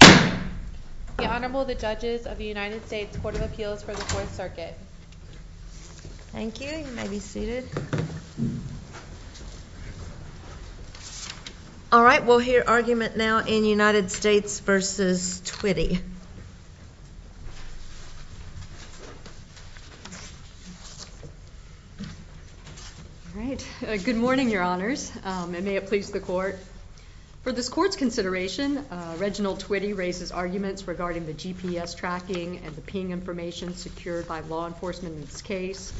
The Honorable, the Judges of the United States Court of Appeals for the Fourth Circuit. Thank you. You may be seated. All right, we'll hear argument now in United States v. Twitty. All right. Good morning, Your Honors, and may it please the Court. For this Court's consideration, Reginald Twitty raises arguments regarding the GPS tracking and the ping information secured by law enforcement in this case.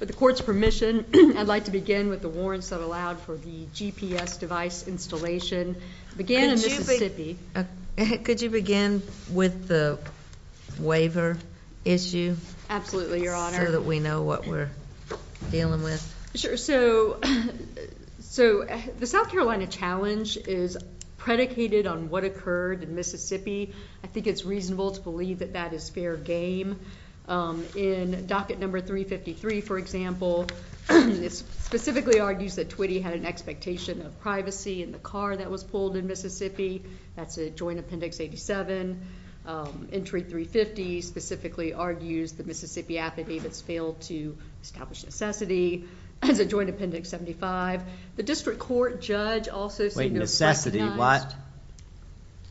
With the Court's permission, I'd like to begin with the warrants that allowed for the GPS device installation. Could you begin with the waiver issue? Absolutely, Your Honor. So that we know what we're dealing with. Sure. So the South Carolina challenge is predicated on what occurred in Mississippi. I think it's reasonable to believe that that is fair game. In docket number 353, for example, it specifically argues that Twitty had an expectation of privacy in the car that was pulled in Mississippi. That's a Joint Appendix 87. Entry 350 specifically argues the Mississippi affidavits failed to establish necessity. That's a Joint Appendix 75. The district court judge also seemed to recognize Wait, necessity, what?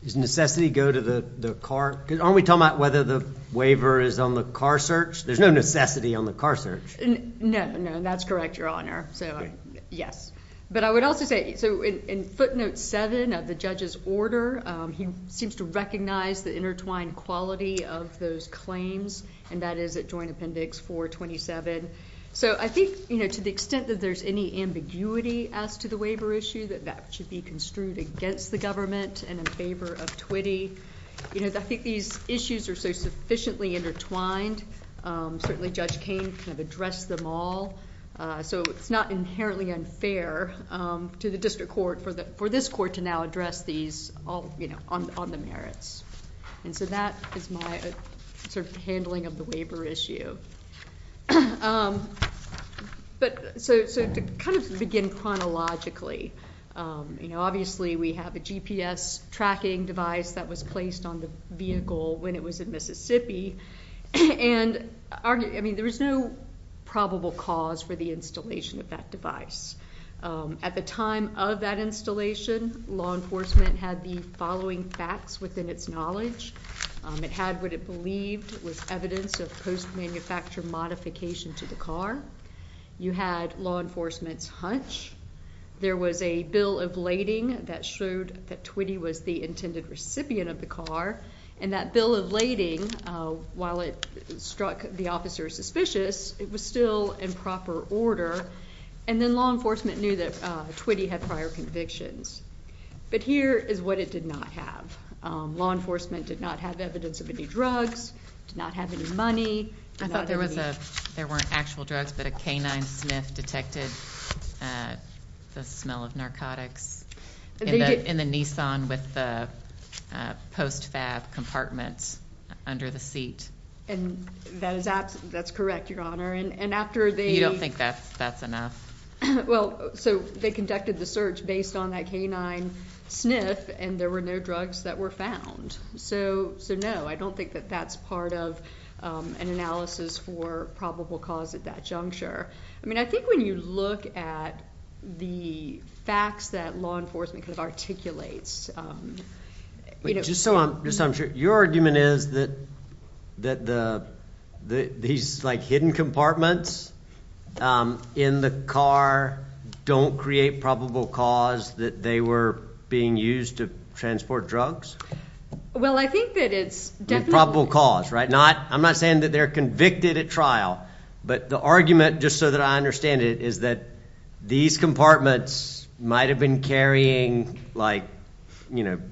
Does necessity go to the car? Aren't we talking about whether the waiver is on the car search? There's no necessity on the car search. No, no, that's correct, Your Honor. So, yes. But I would also say, so in footnote 7 of the judge's order, he seems to recognize the intertwined quality of those claims. And that is at Joint Appendix 427. So I think, you know, to the extent that there's any ambiguity as to the waiver issue, that that should be construed against the government and in favor of Twitty. You know, I think these issues are so sufficiently intertwined. Certainly Judge Kain kind of addressed them all. So it's not inherently unfair to the district court for this court to now address these on the merits. And so that is my sort of handling of the waiver issue. So to kind of begin chronologically, you know, tracking device that was placed on the vehicle when it was in Mississippi. And I mean, there is no probable cause for the installation of that device. At the time of that installation, law enforcement had the following facts within its knowledge. It had what it believed was evidence of post-manufacture modification to the car. You had law enforcement's hunch. There was a bill of lading that showed that Twitty was the intended recipient of the car. And that bill of lading, while it struck the officer suspicious, it was still in proper order. And then law enforcement knew that Twitty had prior convictions. But here is what it did not have. Law enforcement did not have evidence of any drugs, did not have any money. I thought there weren't actual drugs, but a canine sniff detected the smell of narcotics in the Nissan with the post-fab compartments under the seat. And that's correct, Your Honor. You don't think that's enough? Well, so they conducted the search based on that canine sniff, and there were no drugs that were found. So, no, I don't think that that's part of an analysis for probable cause at that juncture. I mean, I think when you look at the facts that law enforcement kind of articulates. Just so I'm sure, your argument is that these, like, hidden compartments in the car don't create probable cause that they were being used to transport drugs? Well, I think that it's definitely. Probable cause, right? I'm not saying that they're convicted at trial, but the argument, just so that I understand it, is that these compartments might have been carrying, like,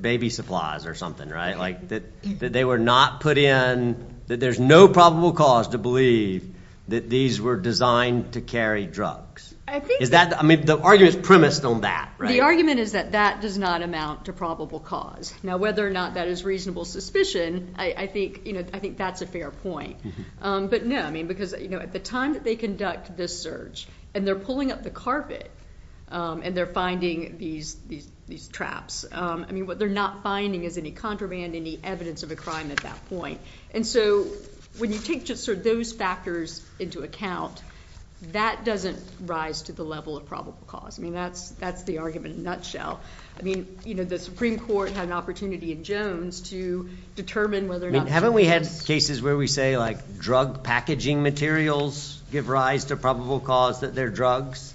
baby supplies or something, right? That they were not put in, that there's no probable cause to believe that these were designed to carry drugs. I mean, the argument is premised on that, right? The argument is that that does not amount to probable cause. Now, whether or not that is reasonable suspicion, I think that's a fair point. But, no, I mean, because at the time that they conduct this search, and they're pulling up the carpet, and they're finding these traps. I mean, what they're not finding is any contraband, any evidence of a crime at that point. And so when you take just sort of those factors into account, that doesn't rise to the level of probable cause. I mean, that's the argument in a nutshell. I mean, you know, the Supreme Court had an opportunity in Jones to determine whether or not there was. I mean, haven't we had cases where we say, like, drug packaging materials give rise to probable cause that they're drugs?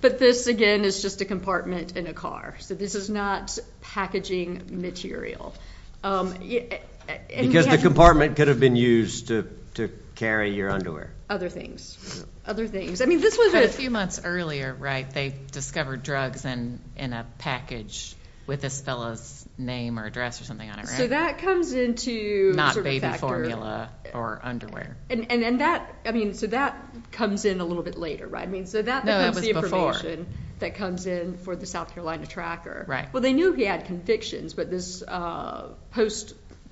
But this, again, is just a compartment in a car. So this is not packaging material. Because the compartment could have been used to carry your underwear. Other things. Other things. A few months earlier, right, they discovered drugs in a package with this fellow's name or address or something on it, right? So that comes into sort of factor. Not baby formula or underwear. And that, I mean, so that comes in a little bit later, right? No, that was before. I mean, so that becomes the information that comes in for the South Carolina tracker. Right. Well, they knew he had convictions, but this postal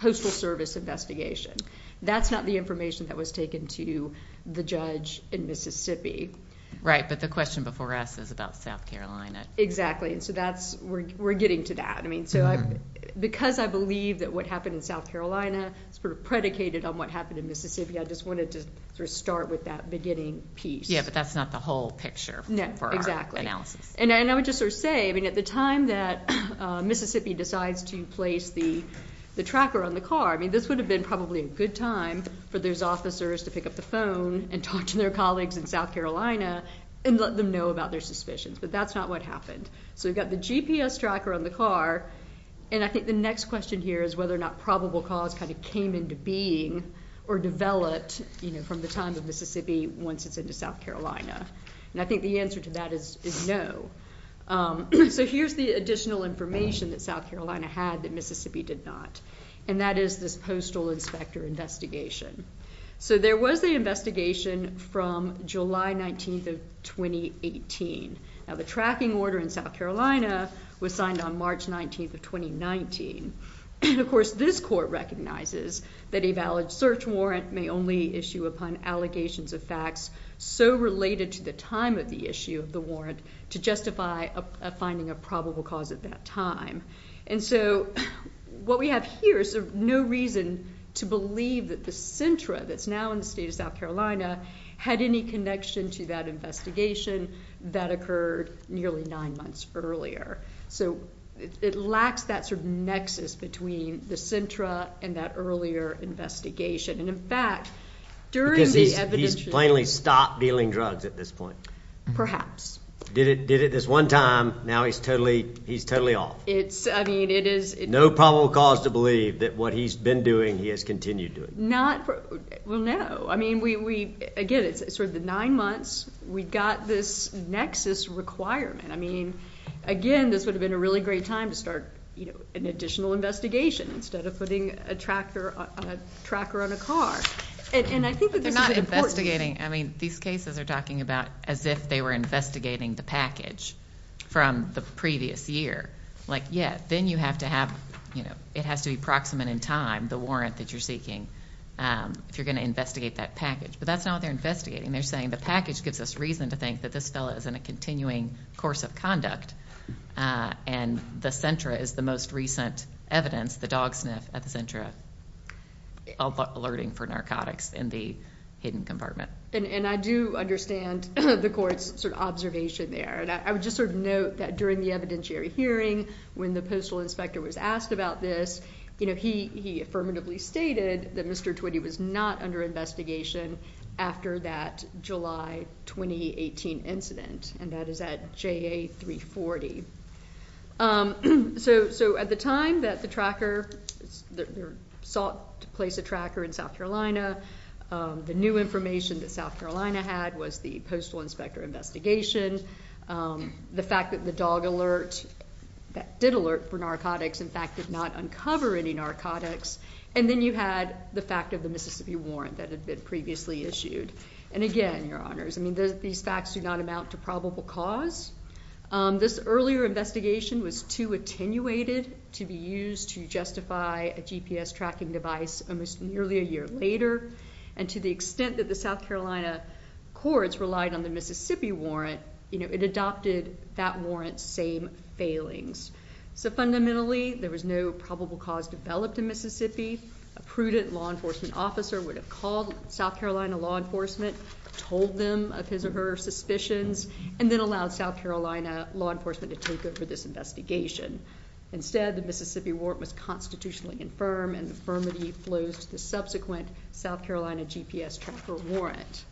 service investigation, that's not the information that was taken to the judge in Mississippi. Right. But the question before us is about South Carolina. And so that's, we're getting to that. I mean, so because I believe that what happened in South Carolina is sort of predicated on what happened in Mississippi, I just wanted to sort of start with that beginning piece. Yeah, but that's not the whole picture for our analysis. And I would just sort of say, I mean, at the time that Mississippi decides to place the tracker on the car, I mean, this would have been probably a good time for those officers to pick up the phone and talk to their colleagues in South Carolina and let them know about their suspicions. But that's not what happened. So we've got the GPS tracker on the car. And I think the next question here is whether or not probable cause kind of came into being or developed, you know, from the time of Mississippi once it's into South Carolina. And I think the answer to that is no. So here's the additional information that South Carolina had that Mississippi did not. And that is this postal inspector investigation. So there was an investigation from July 19th of 2018. Now, the tracking order in South Carolina was signed on March 19th of 2019. And, of course, this court recognizes that a valid search warrant may only issue upon allegations of facts so related to the time of the issue of the warrant to justify finding a probable cause at that time. And so what we have here is no reason to believe that the SINTRA that's now in the state of South Carolina had any connection to that investigation that occurred nearly nine months earlier. So it lacks that sort of nexus between the SINTRA and that earlier investigation. And, in fact, during the evidence – Because he's plainly stopped dealing drugs at this point. Perhaps. Did it this one time. Now he's totally off. It's – I mean, it is – No probable cause to believe that what he's been doing he has continued doing. Not – well, no. I mean, we – again, it's sort of the nine months. We've got this nexus requirement. I mean, again, this would have been a really great time to start an additional investigation instead of putting a tracker on a car. And I think that this is an important – Like, yeah, then you have to have – it has to be proximate in time, the warrant that you're seeking, if you're going to investigate that package. But that's not what they're investigating. They're saying the package gives us reason to think that this fellow is in a continuing course of conduct. And the SINTRA is the most recent evidence, the dog sniff at the SINTRA, alerting for narcotics in the hidden compartment. And I do understand the court's sort of observation there. And I would just sort of note that during the evidentiary hearing, when the postal inspector was asked about this, you know, he affirmatively stated that Mr. Twitty was not under investigation after that July 2018 incident. And that is at JA-340. So at the time that the tracker – they sought to place a tracker in South Carolina, the new information that South Carolina had was the postal inspector investigation. The fact that the dog alert that did alert for narcotics, in fact, did not uncover any narcotics. And then you had the fact of the Mississippi warrant that had been previously issued. And again, Your Honors, I mean, these facts do not amount to probable cause. This earlier investigation was too attenuated to be used to justify a GPS tracking device almost nearly a year later. And to the extent that the South Carolina courts relied on the Mississippi warrant, you know, it adopted that warrant's same failings. So fundamentally, there was no probable cause developed in Mississippi. A prudent law enforcement officer would have called South Carolina law enforcement, told them of his or her suspicions, and then allowed South Carolina law enforcement to take over this investigation. Instead, the Mississippi warrant was constitutionally infirm, and the infirmity flows to the subsequent South Carolina GPS tracker warrant.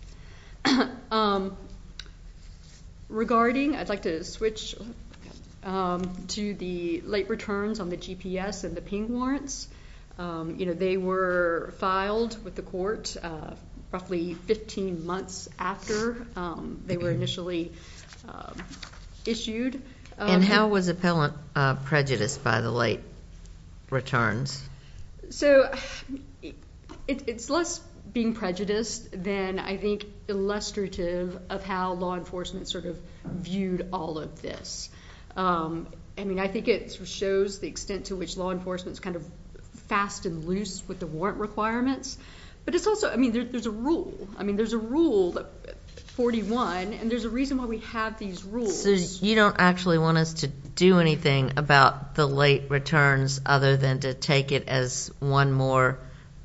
Regarding – I'd like to switch to the late returns on the GPS and the ping warrants. You know, they were filed with the court roughly 15 months after they were initially issued. And how was appellant prejudiced by the late returns? So it's less being prejudiced than, I think, illustrative of how law enforcement sort of viewed all of this. I mean, I think it shows the extent to which law enforcement's kind of fast and loose with the warrant requirements. But it's also – I mean, there's a rule. I mean, there's a rule, 41, and there's a reason why we have these rules. So you don't actually want us to do anything about the late returns other than to take it as one more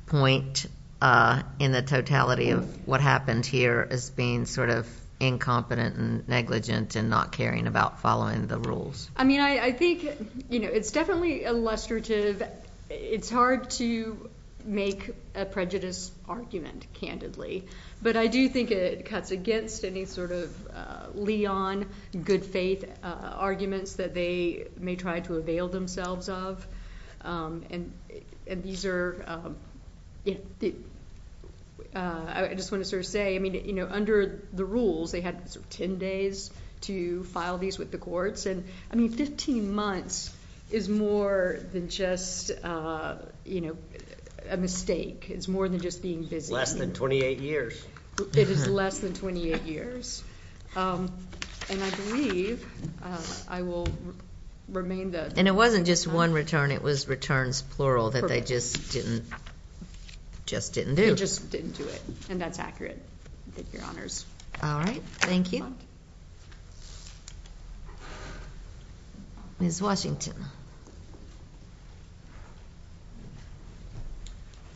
point in the totality of what happened here as being sort of incompetent and negligent and not caring about following the rules. I mean, I think, you know, it's definitely illustrative. It's hard to make a prejudice argument, candidly. But I do think it cuts against any sort of liaison, good faith arguments that they may try to avail themselves of. And these are – I just want to sort of say, I mean, you know, under the rules, they had 10 days to file these with the courts. And, I mean, 15 months is more than just a mistake. It's more than just being busy. Less than 28 years. It is less than 28 years. And I believe I will remain the – And it wasn't just one return. It was returns plural that they just didn't do. They just didn't do it. And that's accurate, with your honors. All right. Thank you. Ms. Washington.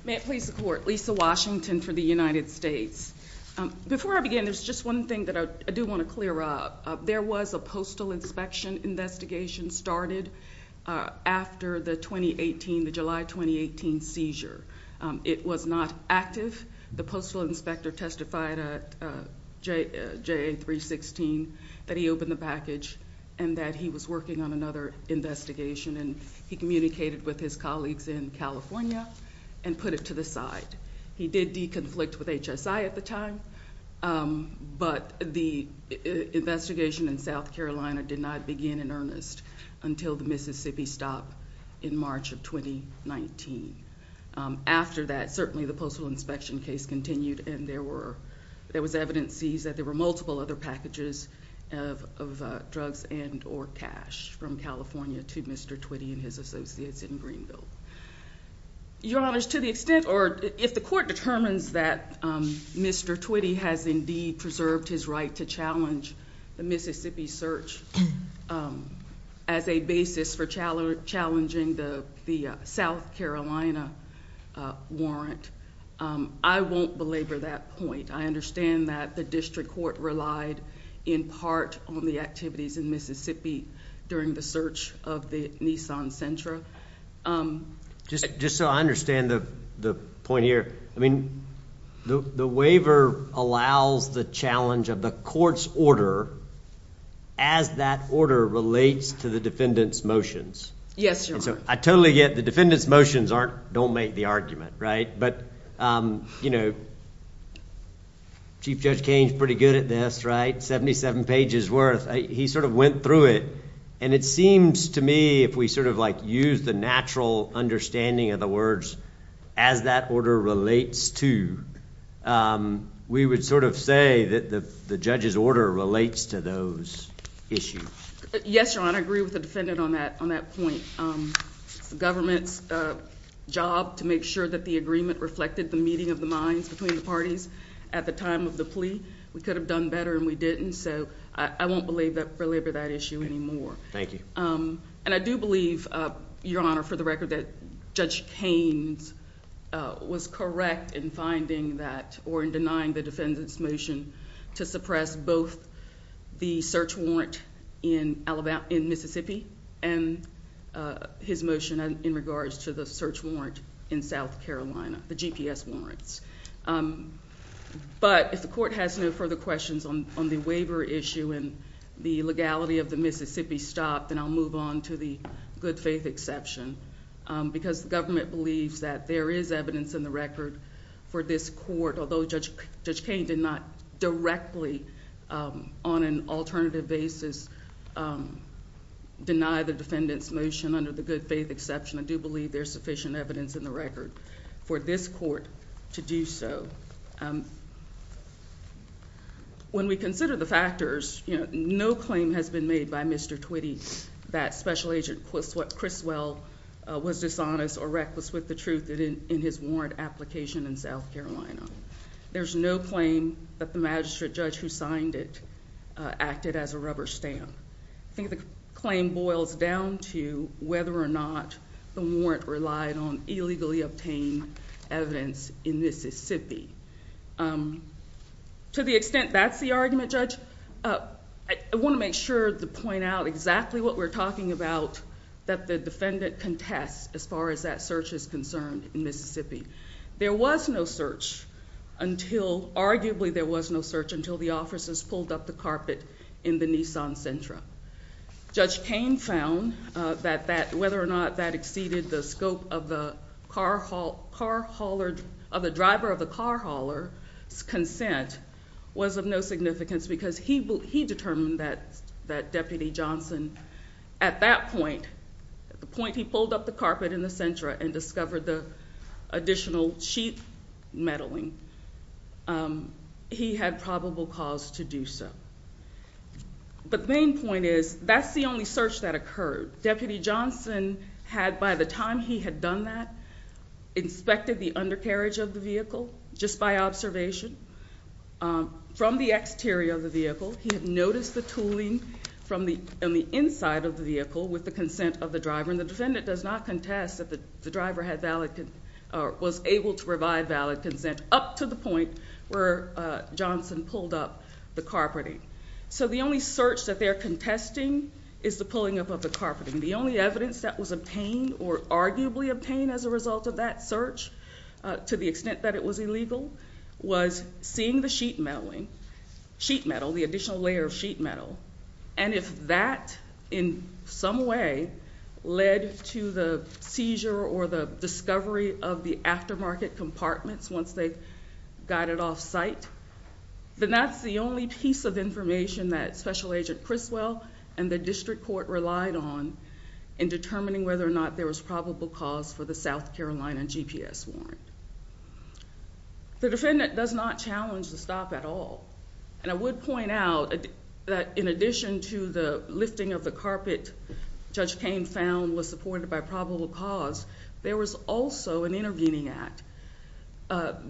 May it please the Court. Lisa Washington for the United States. Before I begin, there's just one thing that I do want to clear up. There was a postal inspection investigation started after the 2018, the July 2018 seizure. It was not active. The postal inspector testified at JA 316 that he opened the package and that he was working on another investigation. And he communicated with his colleagues in California and put it to the side. He did de-conflict with HSI at the time. But the investigation in South Carolina did not begin in earnest until the Mississippi stop in March of 2019. After that, certainly the postal inspection case continued, and there was evidence seized that there were multiple other packages of drugs and or cash from California to Mr. Twitty and his associates in Greenville. Your honors, to the extent or if the Court determines that Mr. Twitty has indeed preserved his right to challenge the Mississippi search as a basis for challenging the South Carolina warrant, I won't belabor that point. I understand that the district court relied in part on the activities in Mississippi during the search of the Nissan Sentra. Just so I understand the point here, I mean, the waiver allows the challenge of the court's order as that order relates to the defendant's motions. Yes, your honor. I totally get the defendant's motions don't make the argument, right? But, you know, Chief Judge Cain's pretty good at this, right? 77 pages worth. He sort of went through it. And it seems to me if we sort of like use the natural understanding of the words as that order relates to, we would sort of say that the judge's order relates to those issues. Yes, your honor. I agree with the defendant on that on that point. The government's job to make sure that the agreement reflected the meeting of the minds between the parties at the time of the plea. We could have done better and we didn't. So I won't belabor that issue anymore. Thank you. And I do believe, your honor, for the record that Judge Cain's was correct in finding that or in denying the defendant's motion to suppress both the search warrant in Mississippi and his motion in regards to the search warrant in South Carolina, the GPS warrants. But if the court has no further questions on the waiver issue and the legality of the Mississippi stop, then I'll move on to the good faith exception. Because the government believes that there is evidence in the record for this court, although Judge Cain did not directly on an alternative basis deny the defendant's motion under the good faith exception. I do believe there's sufficient evidence in the record for this court to do so. When we consider the factors, no claim has been made by Mr. Twitty that Special Agent Criswell was dishonest or reckless with the truth in his warrant application in South Carolina. There's no claim that the magistrate judge who signed it acted as a rubber stamp. I think the claim boils down to whether or not the warrant relied on illegally obtained evidence in Mississippi. To the extent that's the argument, Judge, I want to make sure to point out exactly what we're talking about that the defendant contests as far as that search is concerned in Mississippi. There was no search until, arguably there was no search until the officers pulled up the carpet in the Nissan Sentra. Judge Cain found that whether or not that exceeded the scope of the driver of the car hauler's consent was of no significance because he determined that Deputy Johnson, at that point, at the point he pulled up the carpet in the Sentra and discovered the additional sheet meddling, he had probable cause to do so. But the main point is that's the only search that occurred. Deputy Johnson had, by the time he had done that, inspected the undercarriage of the vehicle just by observation. From the exterior of the vehicle, he had noticed the tooling on the inside of the vehicle with the consent of the driver, and the defendant does not contest that the driver was able to provide valid consent up to the point where Johnson pulled up the carpeting. So the only search that they're contesting is the pulling up of the carpeting. The only evidence that was obtained or arguably obtained as a result of that search, to the extent that it was illegal, was seeing the sheet meddling, sheet metal, the additional layer of sheet metal. And if that, in some way, led to the seizure or the discovery of the aftermarket compartments once they got it off site, then that's the only piece of information that Special Agent Criswell and the district court relied on in determining whether or not there was probable cause for the South Carolina GPS warrant. The defendant does not challenge the stop at all. And I would point out that in addition to the lifting of the carpet Judge Cain found was supported by probable cause, there was also an intervening act.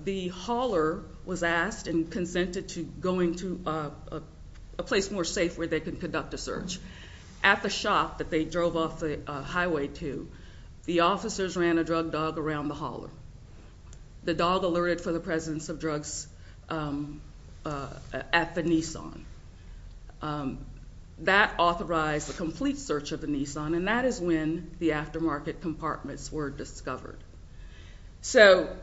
The hauler was asked and consented to going to a place more safe where they could conduct a search. At the shop that they drove off the highway to, the officers ran a drug dog around the hauler. The dog alerted for the presence of drugs at the Nissan. That authorized the complete search of the Nissan, and that is when the aftermarket compartments were discovered. So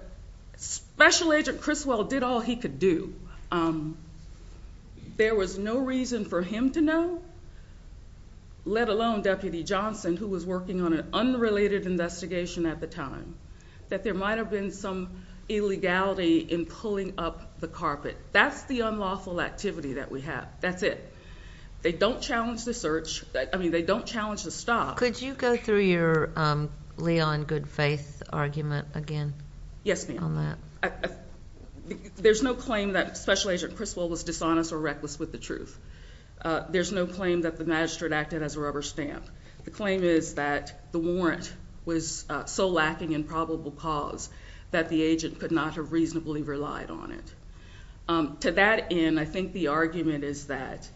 Special Agent Criswell did all he could do. There was no reason for him to know, let alone Deputy Johnson, who was working on an unrelated investigation at the time, that there might have been some illegality in pulling up the carpet. That's the unlawful activity that we have. That's it. They don't challenge the search. I mean, they don't challenge the stop. Could you go through your Leon good faith argument again on that? There's no claim that Special Agent Criswell was dishonest or reckless with the truth. There's no claim that the magistrate acted as a rubber stamp. The claim is that the warrant was so lacking in probable cause that the agent could not have reasonably relied on it. To that end, I think the argument is that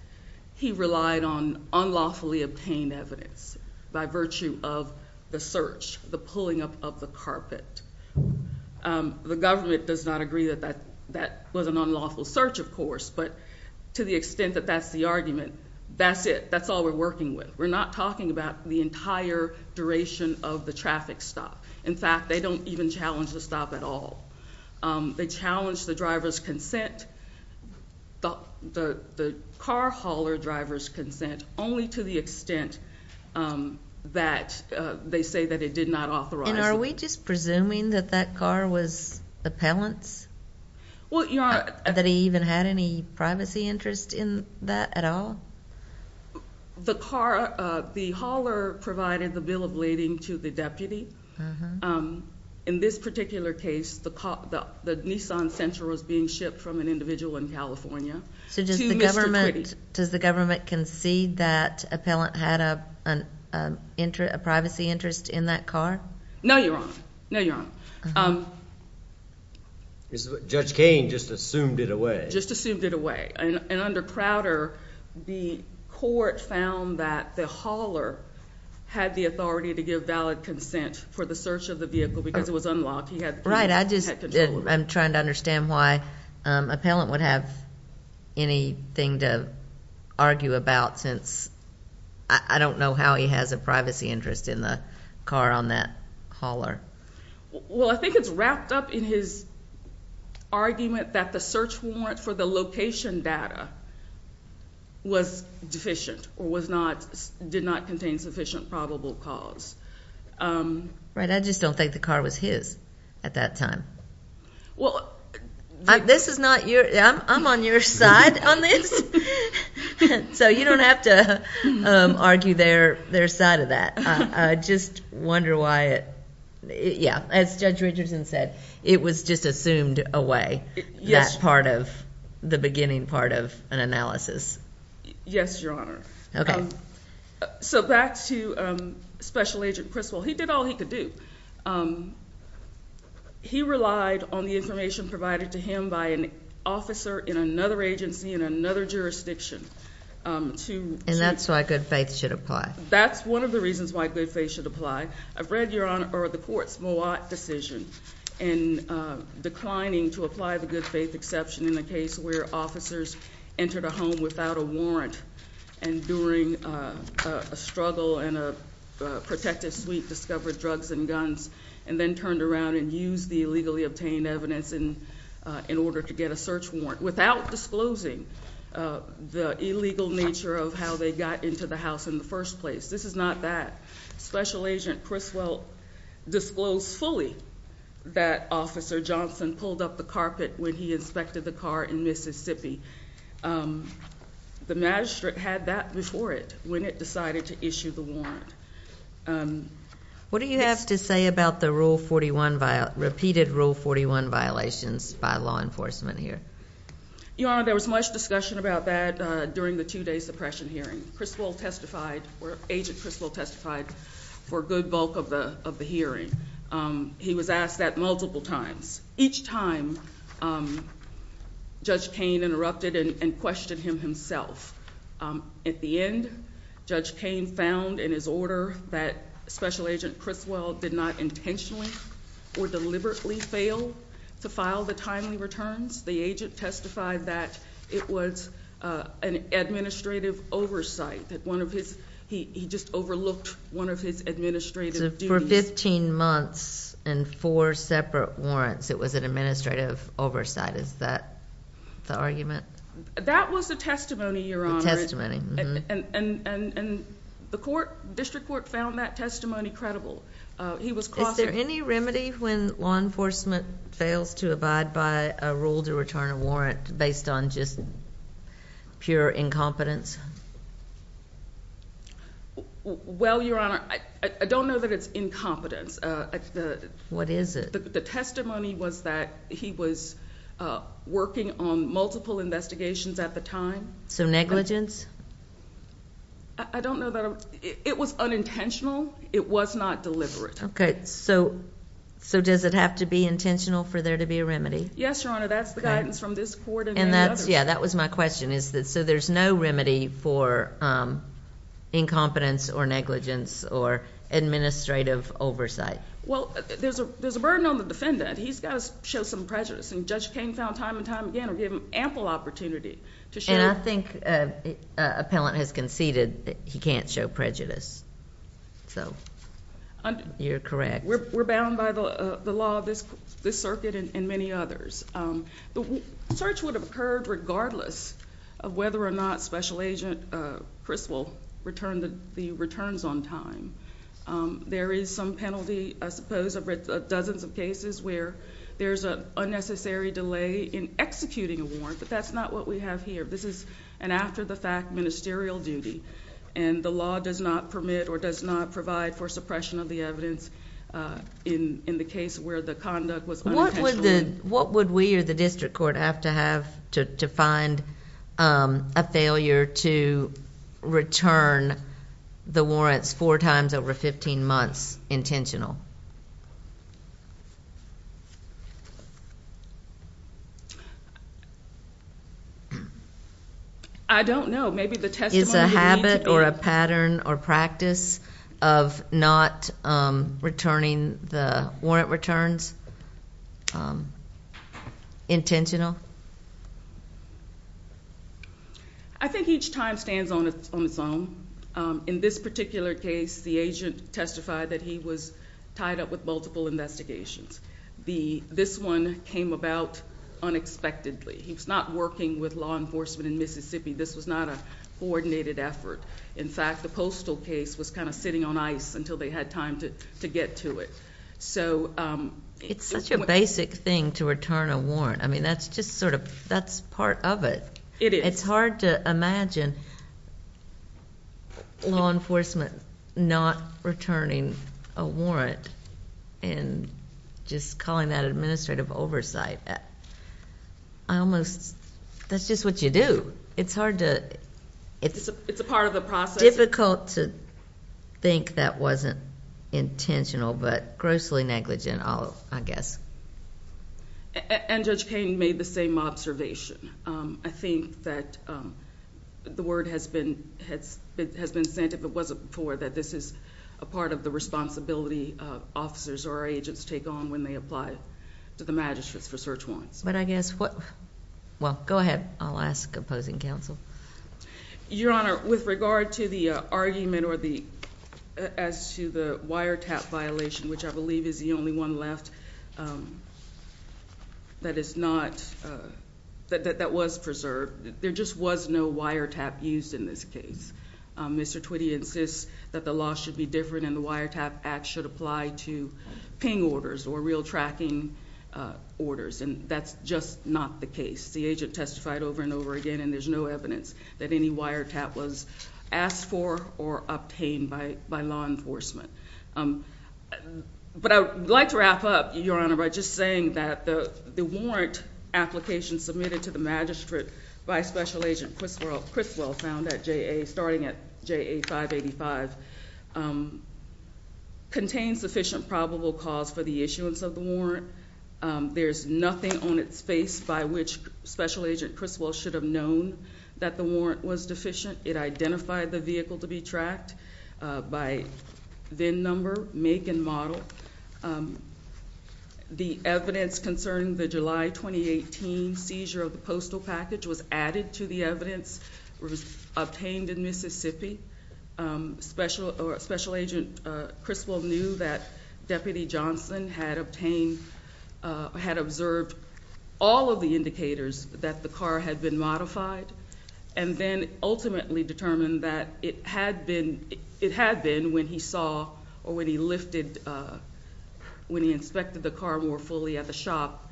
he relied on unlawfully obtained evidence by virtue of the search, the pulling up of the carpet. The government does not agree that that was an unlawful search, of course, but to the extent that that's the argument, that's it. That's all we're working with. We're not talking about the entire duration of the traffic stop. In fact, they don't even challenge the stop at all. They challenge the driver's consent, the car hauler driver's consent, only to the extent that they say that it did not authorize it. And are we just presuming that that car was appellant's, that he even had any privacy interest in that at all? The hauler provided the bill of lading to the deputy. In this particular case, the Nissan Sentra was being shipped from an individual in California to Mr. Twitty. So does the government concede that appellant had a privacy interest in that car? No, Your Honor. No, Your Honor. Judge Kane just assumed it away. Just assumed it away. And under Crowder, the court found that the hauler had the authority to give valid consent for the search of the vehicle because it was unlocked. He had control. Right. I'm trying to understand why appellant would have anything to argue about since I don't know how he has a privacy interest in the car on that hauler. Well, I think it's wrapped up in his argument that the search warrant for the location data was deficient or was not, did not contain sufficient probable cause. Right. I just don't think the car was his at that time. Well, this is not your, I'm on your side on this. So you don't have to argue their side of that. I just wonder why it, yeah, as Judge Richardson said, it was just assumed away, that part of the beginning part of an analysis. Yes, Your Honor. Okay. So back to Special Agent Criswell. He did all he could do. He relied on the information provided to him by an officer in another agency in another jurisdiction to And that's why good faith should apply. That's one of the reasons why good faith should apply. I've read, Your Honor, the court's Moat decision in declining to apply the good faith exception in the case where officers entered a home without a warrant and during a struggle in a protective suite discovered drugs and guns and then turned around and used the illegally obtained evidence in order to get a search warrant without disclosing the illegal nature of how they got into the house in the first place. This is not that. Special Agent Criswell disclosed fully that Officer Johnson pulled up the carpet when he inspected the car in Mississippi. The magistrate had that before it when it decided to issue the warrant. What do you have to say about the repeated Rule 41 violations by law enforcement here? Your Honor, there was much discussion about that during the two-day suppression hearing. Agent Criswell testified for a good bulk of the hearing. He was asked that multiple times. Each time, Judge Kane interrupted and questioned him himself. At the end, Judge Kane found in his order that Special Agent Criswell did not intentionally or deliberately fail to file the timely returns. The agent testified that it was an administrative oversight. He just overlooked one of his administrative duties. For 15 months and four separate warrants, it was an administrative oversight. Is that the argument? That was the testimony, Your Honor. The testimony. And the District Court found that testimony credible. Is there any remedy when law enforcement fails to abide by a rule to return a warrant based on just pure incompetence? Well, Your Honor, I don't know that it's incompetence. What is it? The testimony was that he was working on multiple investigations at the time. So negligence? I don't know that. It was unintentional. It was not deliberate. Okay. So does it have to be intentional for there to be a remedy? Yes, Your Honor. That's the guidance from this court and many others. Yeah, that was my question. So there's no remedy for incompetence or negligence or administrative oversight? Well, there's a burden on the defendant. He's got to show some prejudice. And Judge Kain found time and time again to give him ample opportunity to show... And I think an appellant has conceded he can't show prejudice. So you're correct. We're bound by the law of this circuit and many others. The search would have occurred regardless of whether or not Special Agent Chris will return the returns on time. There is some penalty, I suppose, of dozens of cases where there's an unnecessary delay in executing a warrant. But that's not what we have here. This is an after-the-fact ministerial duty. And the law does not permit or does not provide for suppression of the evidence in the case where the conduct was unintentional. What would we or the district court have to have to find a failure to return the warrants four times over 15 months intentional? I don't know. Is a habit or a pattern or practice of not returning the warrant returns intentional? I think each time stands on its own. In this particular case, the agent testified that he was tied up with multiple investigations. This one came about unexpectedly. He was not working with law enforcement in Mississippi. This was not a coordinated effort. In fact, the postal case was kind of sitting on ice until they had time to get to it. It's such a basic thing to return a warrant. That's part of it. It is. It's hard to imagine law enforcement not returning a warrant and just calling that administrative oversight. That's just what you do. It's a part of the process. It's difficult to think that wasn't intentional, but grossly negligent, I guess. And Judge Koehn made the same observation. I think that the word has been sent, if it wasn't before, that this is a part of the responsibility officers or agents take on when they apply to the magistrates for search warrants. Go ahead. I'll ask opposing counsel. Your Honor, with regard to the argument as to the wiretap violation, which I believe is the only one left that was preserved, there just was no wiretap used in this case. Mr. Twitty insists that the law should be different and the Wiretap Act should apply to ping orders or real tracking orders, and that's just not the case. The agent testified over and over again, and there's no evidence that any wiretap was asked for or obtained by law enforcement. But I would like to wrap up, Your Honor, by just saying that the warrant application submitted to the magistrate by Special Agent Criswell, found at JA, starting at JA 585, contains sufficient probable cause for the issuance of the warrant. There's nothing on its face by which Special Agent Criswell should have known that the warrant was deficient. It identified the vehicle to be tracked by VIN number, make, and model. The evidence concerning the July 2018 seizure of the postal package was added to the evidence, was obtained in Mississippi. Special Agent Criswell knew that Deputy Johnson had obtained, had observed all of the indicators that the car had been modified, and then ultimately determined that it had been when he saw or when he inspected the car more fully at the shop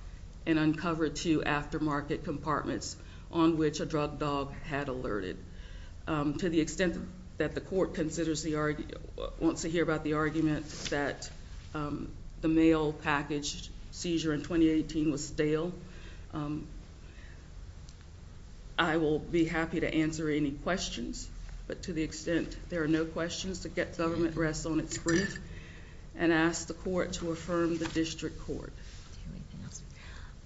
and uncovered two aftermarket compartments on which a drug dog had alerted. To the extent that the court wants to hear about the argument that the mail package seizure in 2018 was stale, I will be happy to answer any questions. But to the extent there are no questions, to get government rest on its brief, and ask the court to affirm the district court.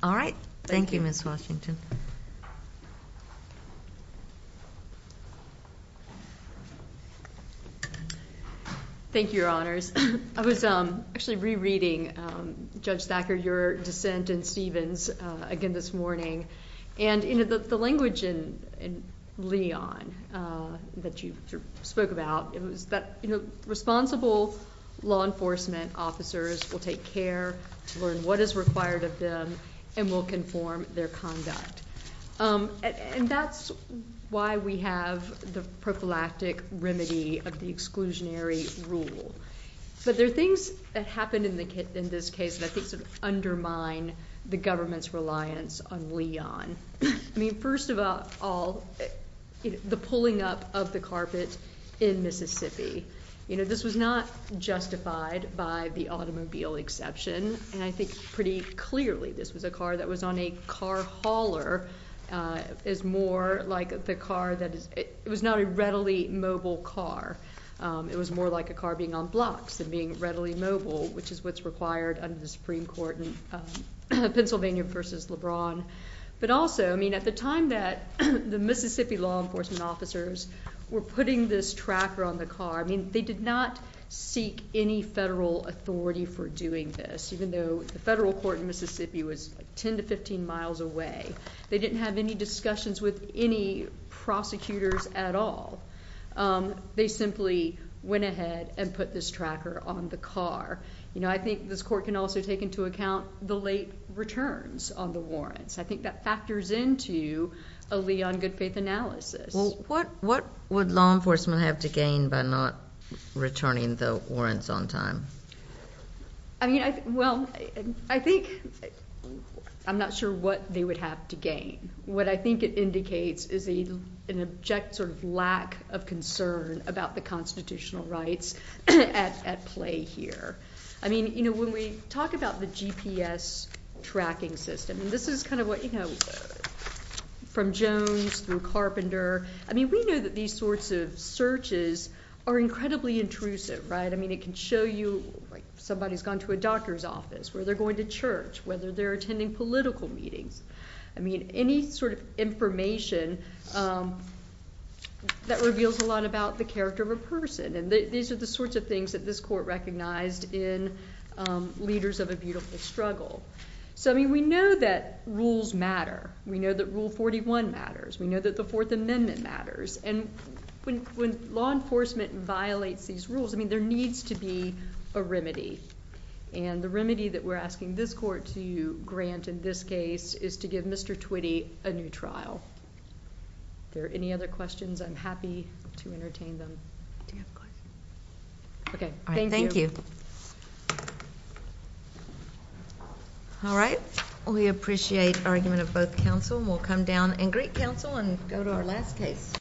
All right. Thank you, Ms. Washington. Thank you, Your Honors. I was actually rereading, Judge Thacker, your dissent in Stevens again this morning. And in the language in Leon that you spoke about, it was that, you know, responsible law enforcement officers will take care to learn what is required of them and will conform their conduct. And that's why we have the prophylactic remedy of the exclusionary rule. But there are things that happened in this case that I think sort of undermine the government's reliance on Leon. I mean, first of all, the pulling up of the carpet in Mississippi. You know, this was not justified by the automobile exception. And I think pretty clearly this was a car that was on a car hauler. It was more like the car that was not a readily mobile car. It was more like a car being on blocks than being readily mobile, which is what's required under the Supreme Court in Pennsylvania v. LeBron. But also, I mean, at the time that the Mississippi law enforcement officers were putting this tracker on the car, I mean, they did not seek any federal authority for doing this, even though the federal court in Mississippi was 10 to 15 miles away. They didn't have any discussions with any prosecutors at all. They simply went ahead and put this tracker on the car. You know, I think this court can also take into account the late returns on the warrants. I think that factors into a Leon good faith analysis. Well, what would law enforcement have to gain by not returning the warrants on time? I mean, well, I think I'm not sure what they would have to gain. What I think it indicates is an object sort of lack of concern about the constitutional rights at play here. I mean, you know, when we talk about the GPS tracking system, this is kind of what, you know, from Jones through Carpenter. I mean, we know that these sorts of searches are incredibly intrusive, right? I mean, it can show you somebody's gone to a doctor's office where they're going to church, whether they're attending political meetings. I mean, any sort of information that reveals a lot about the character of a person. These are the sorts of things that this court recognized in leaders of a beautiful struggle. So, I mean, we know that rules matter. We know that Rule 41 matters. We know that the Fourth Amendment matters. And when law enforcement violates these rules, I mean, there needs to be a remedy. And the remedy that we're asking this court to grant in this case is to give Mr. Twitty a new trial. If there are any other questions, I'm happy to entertain them. Do you have a question? Okay. Thank you. All right. Thank you. All right. We appreciate argument of both counsel. And we'll come down and greet counsel and go to our last case.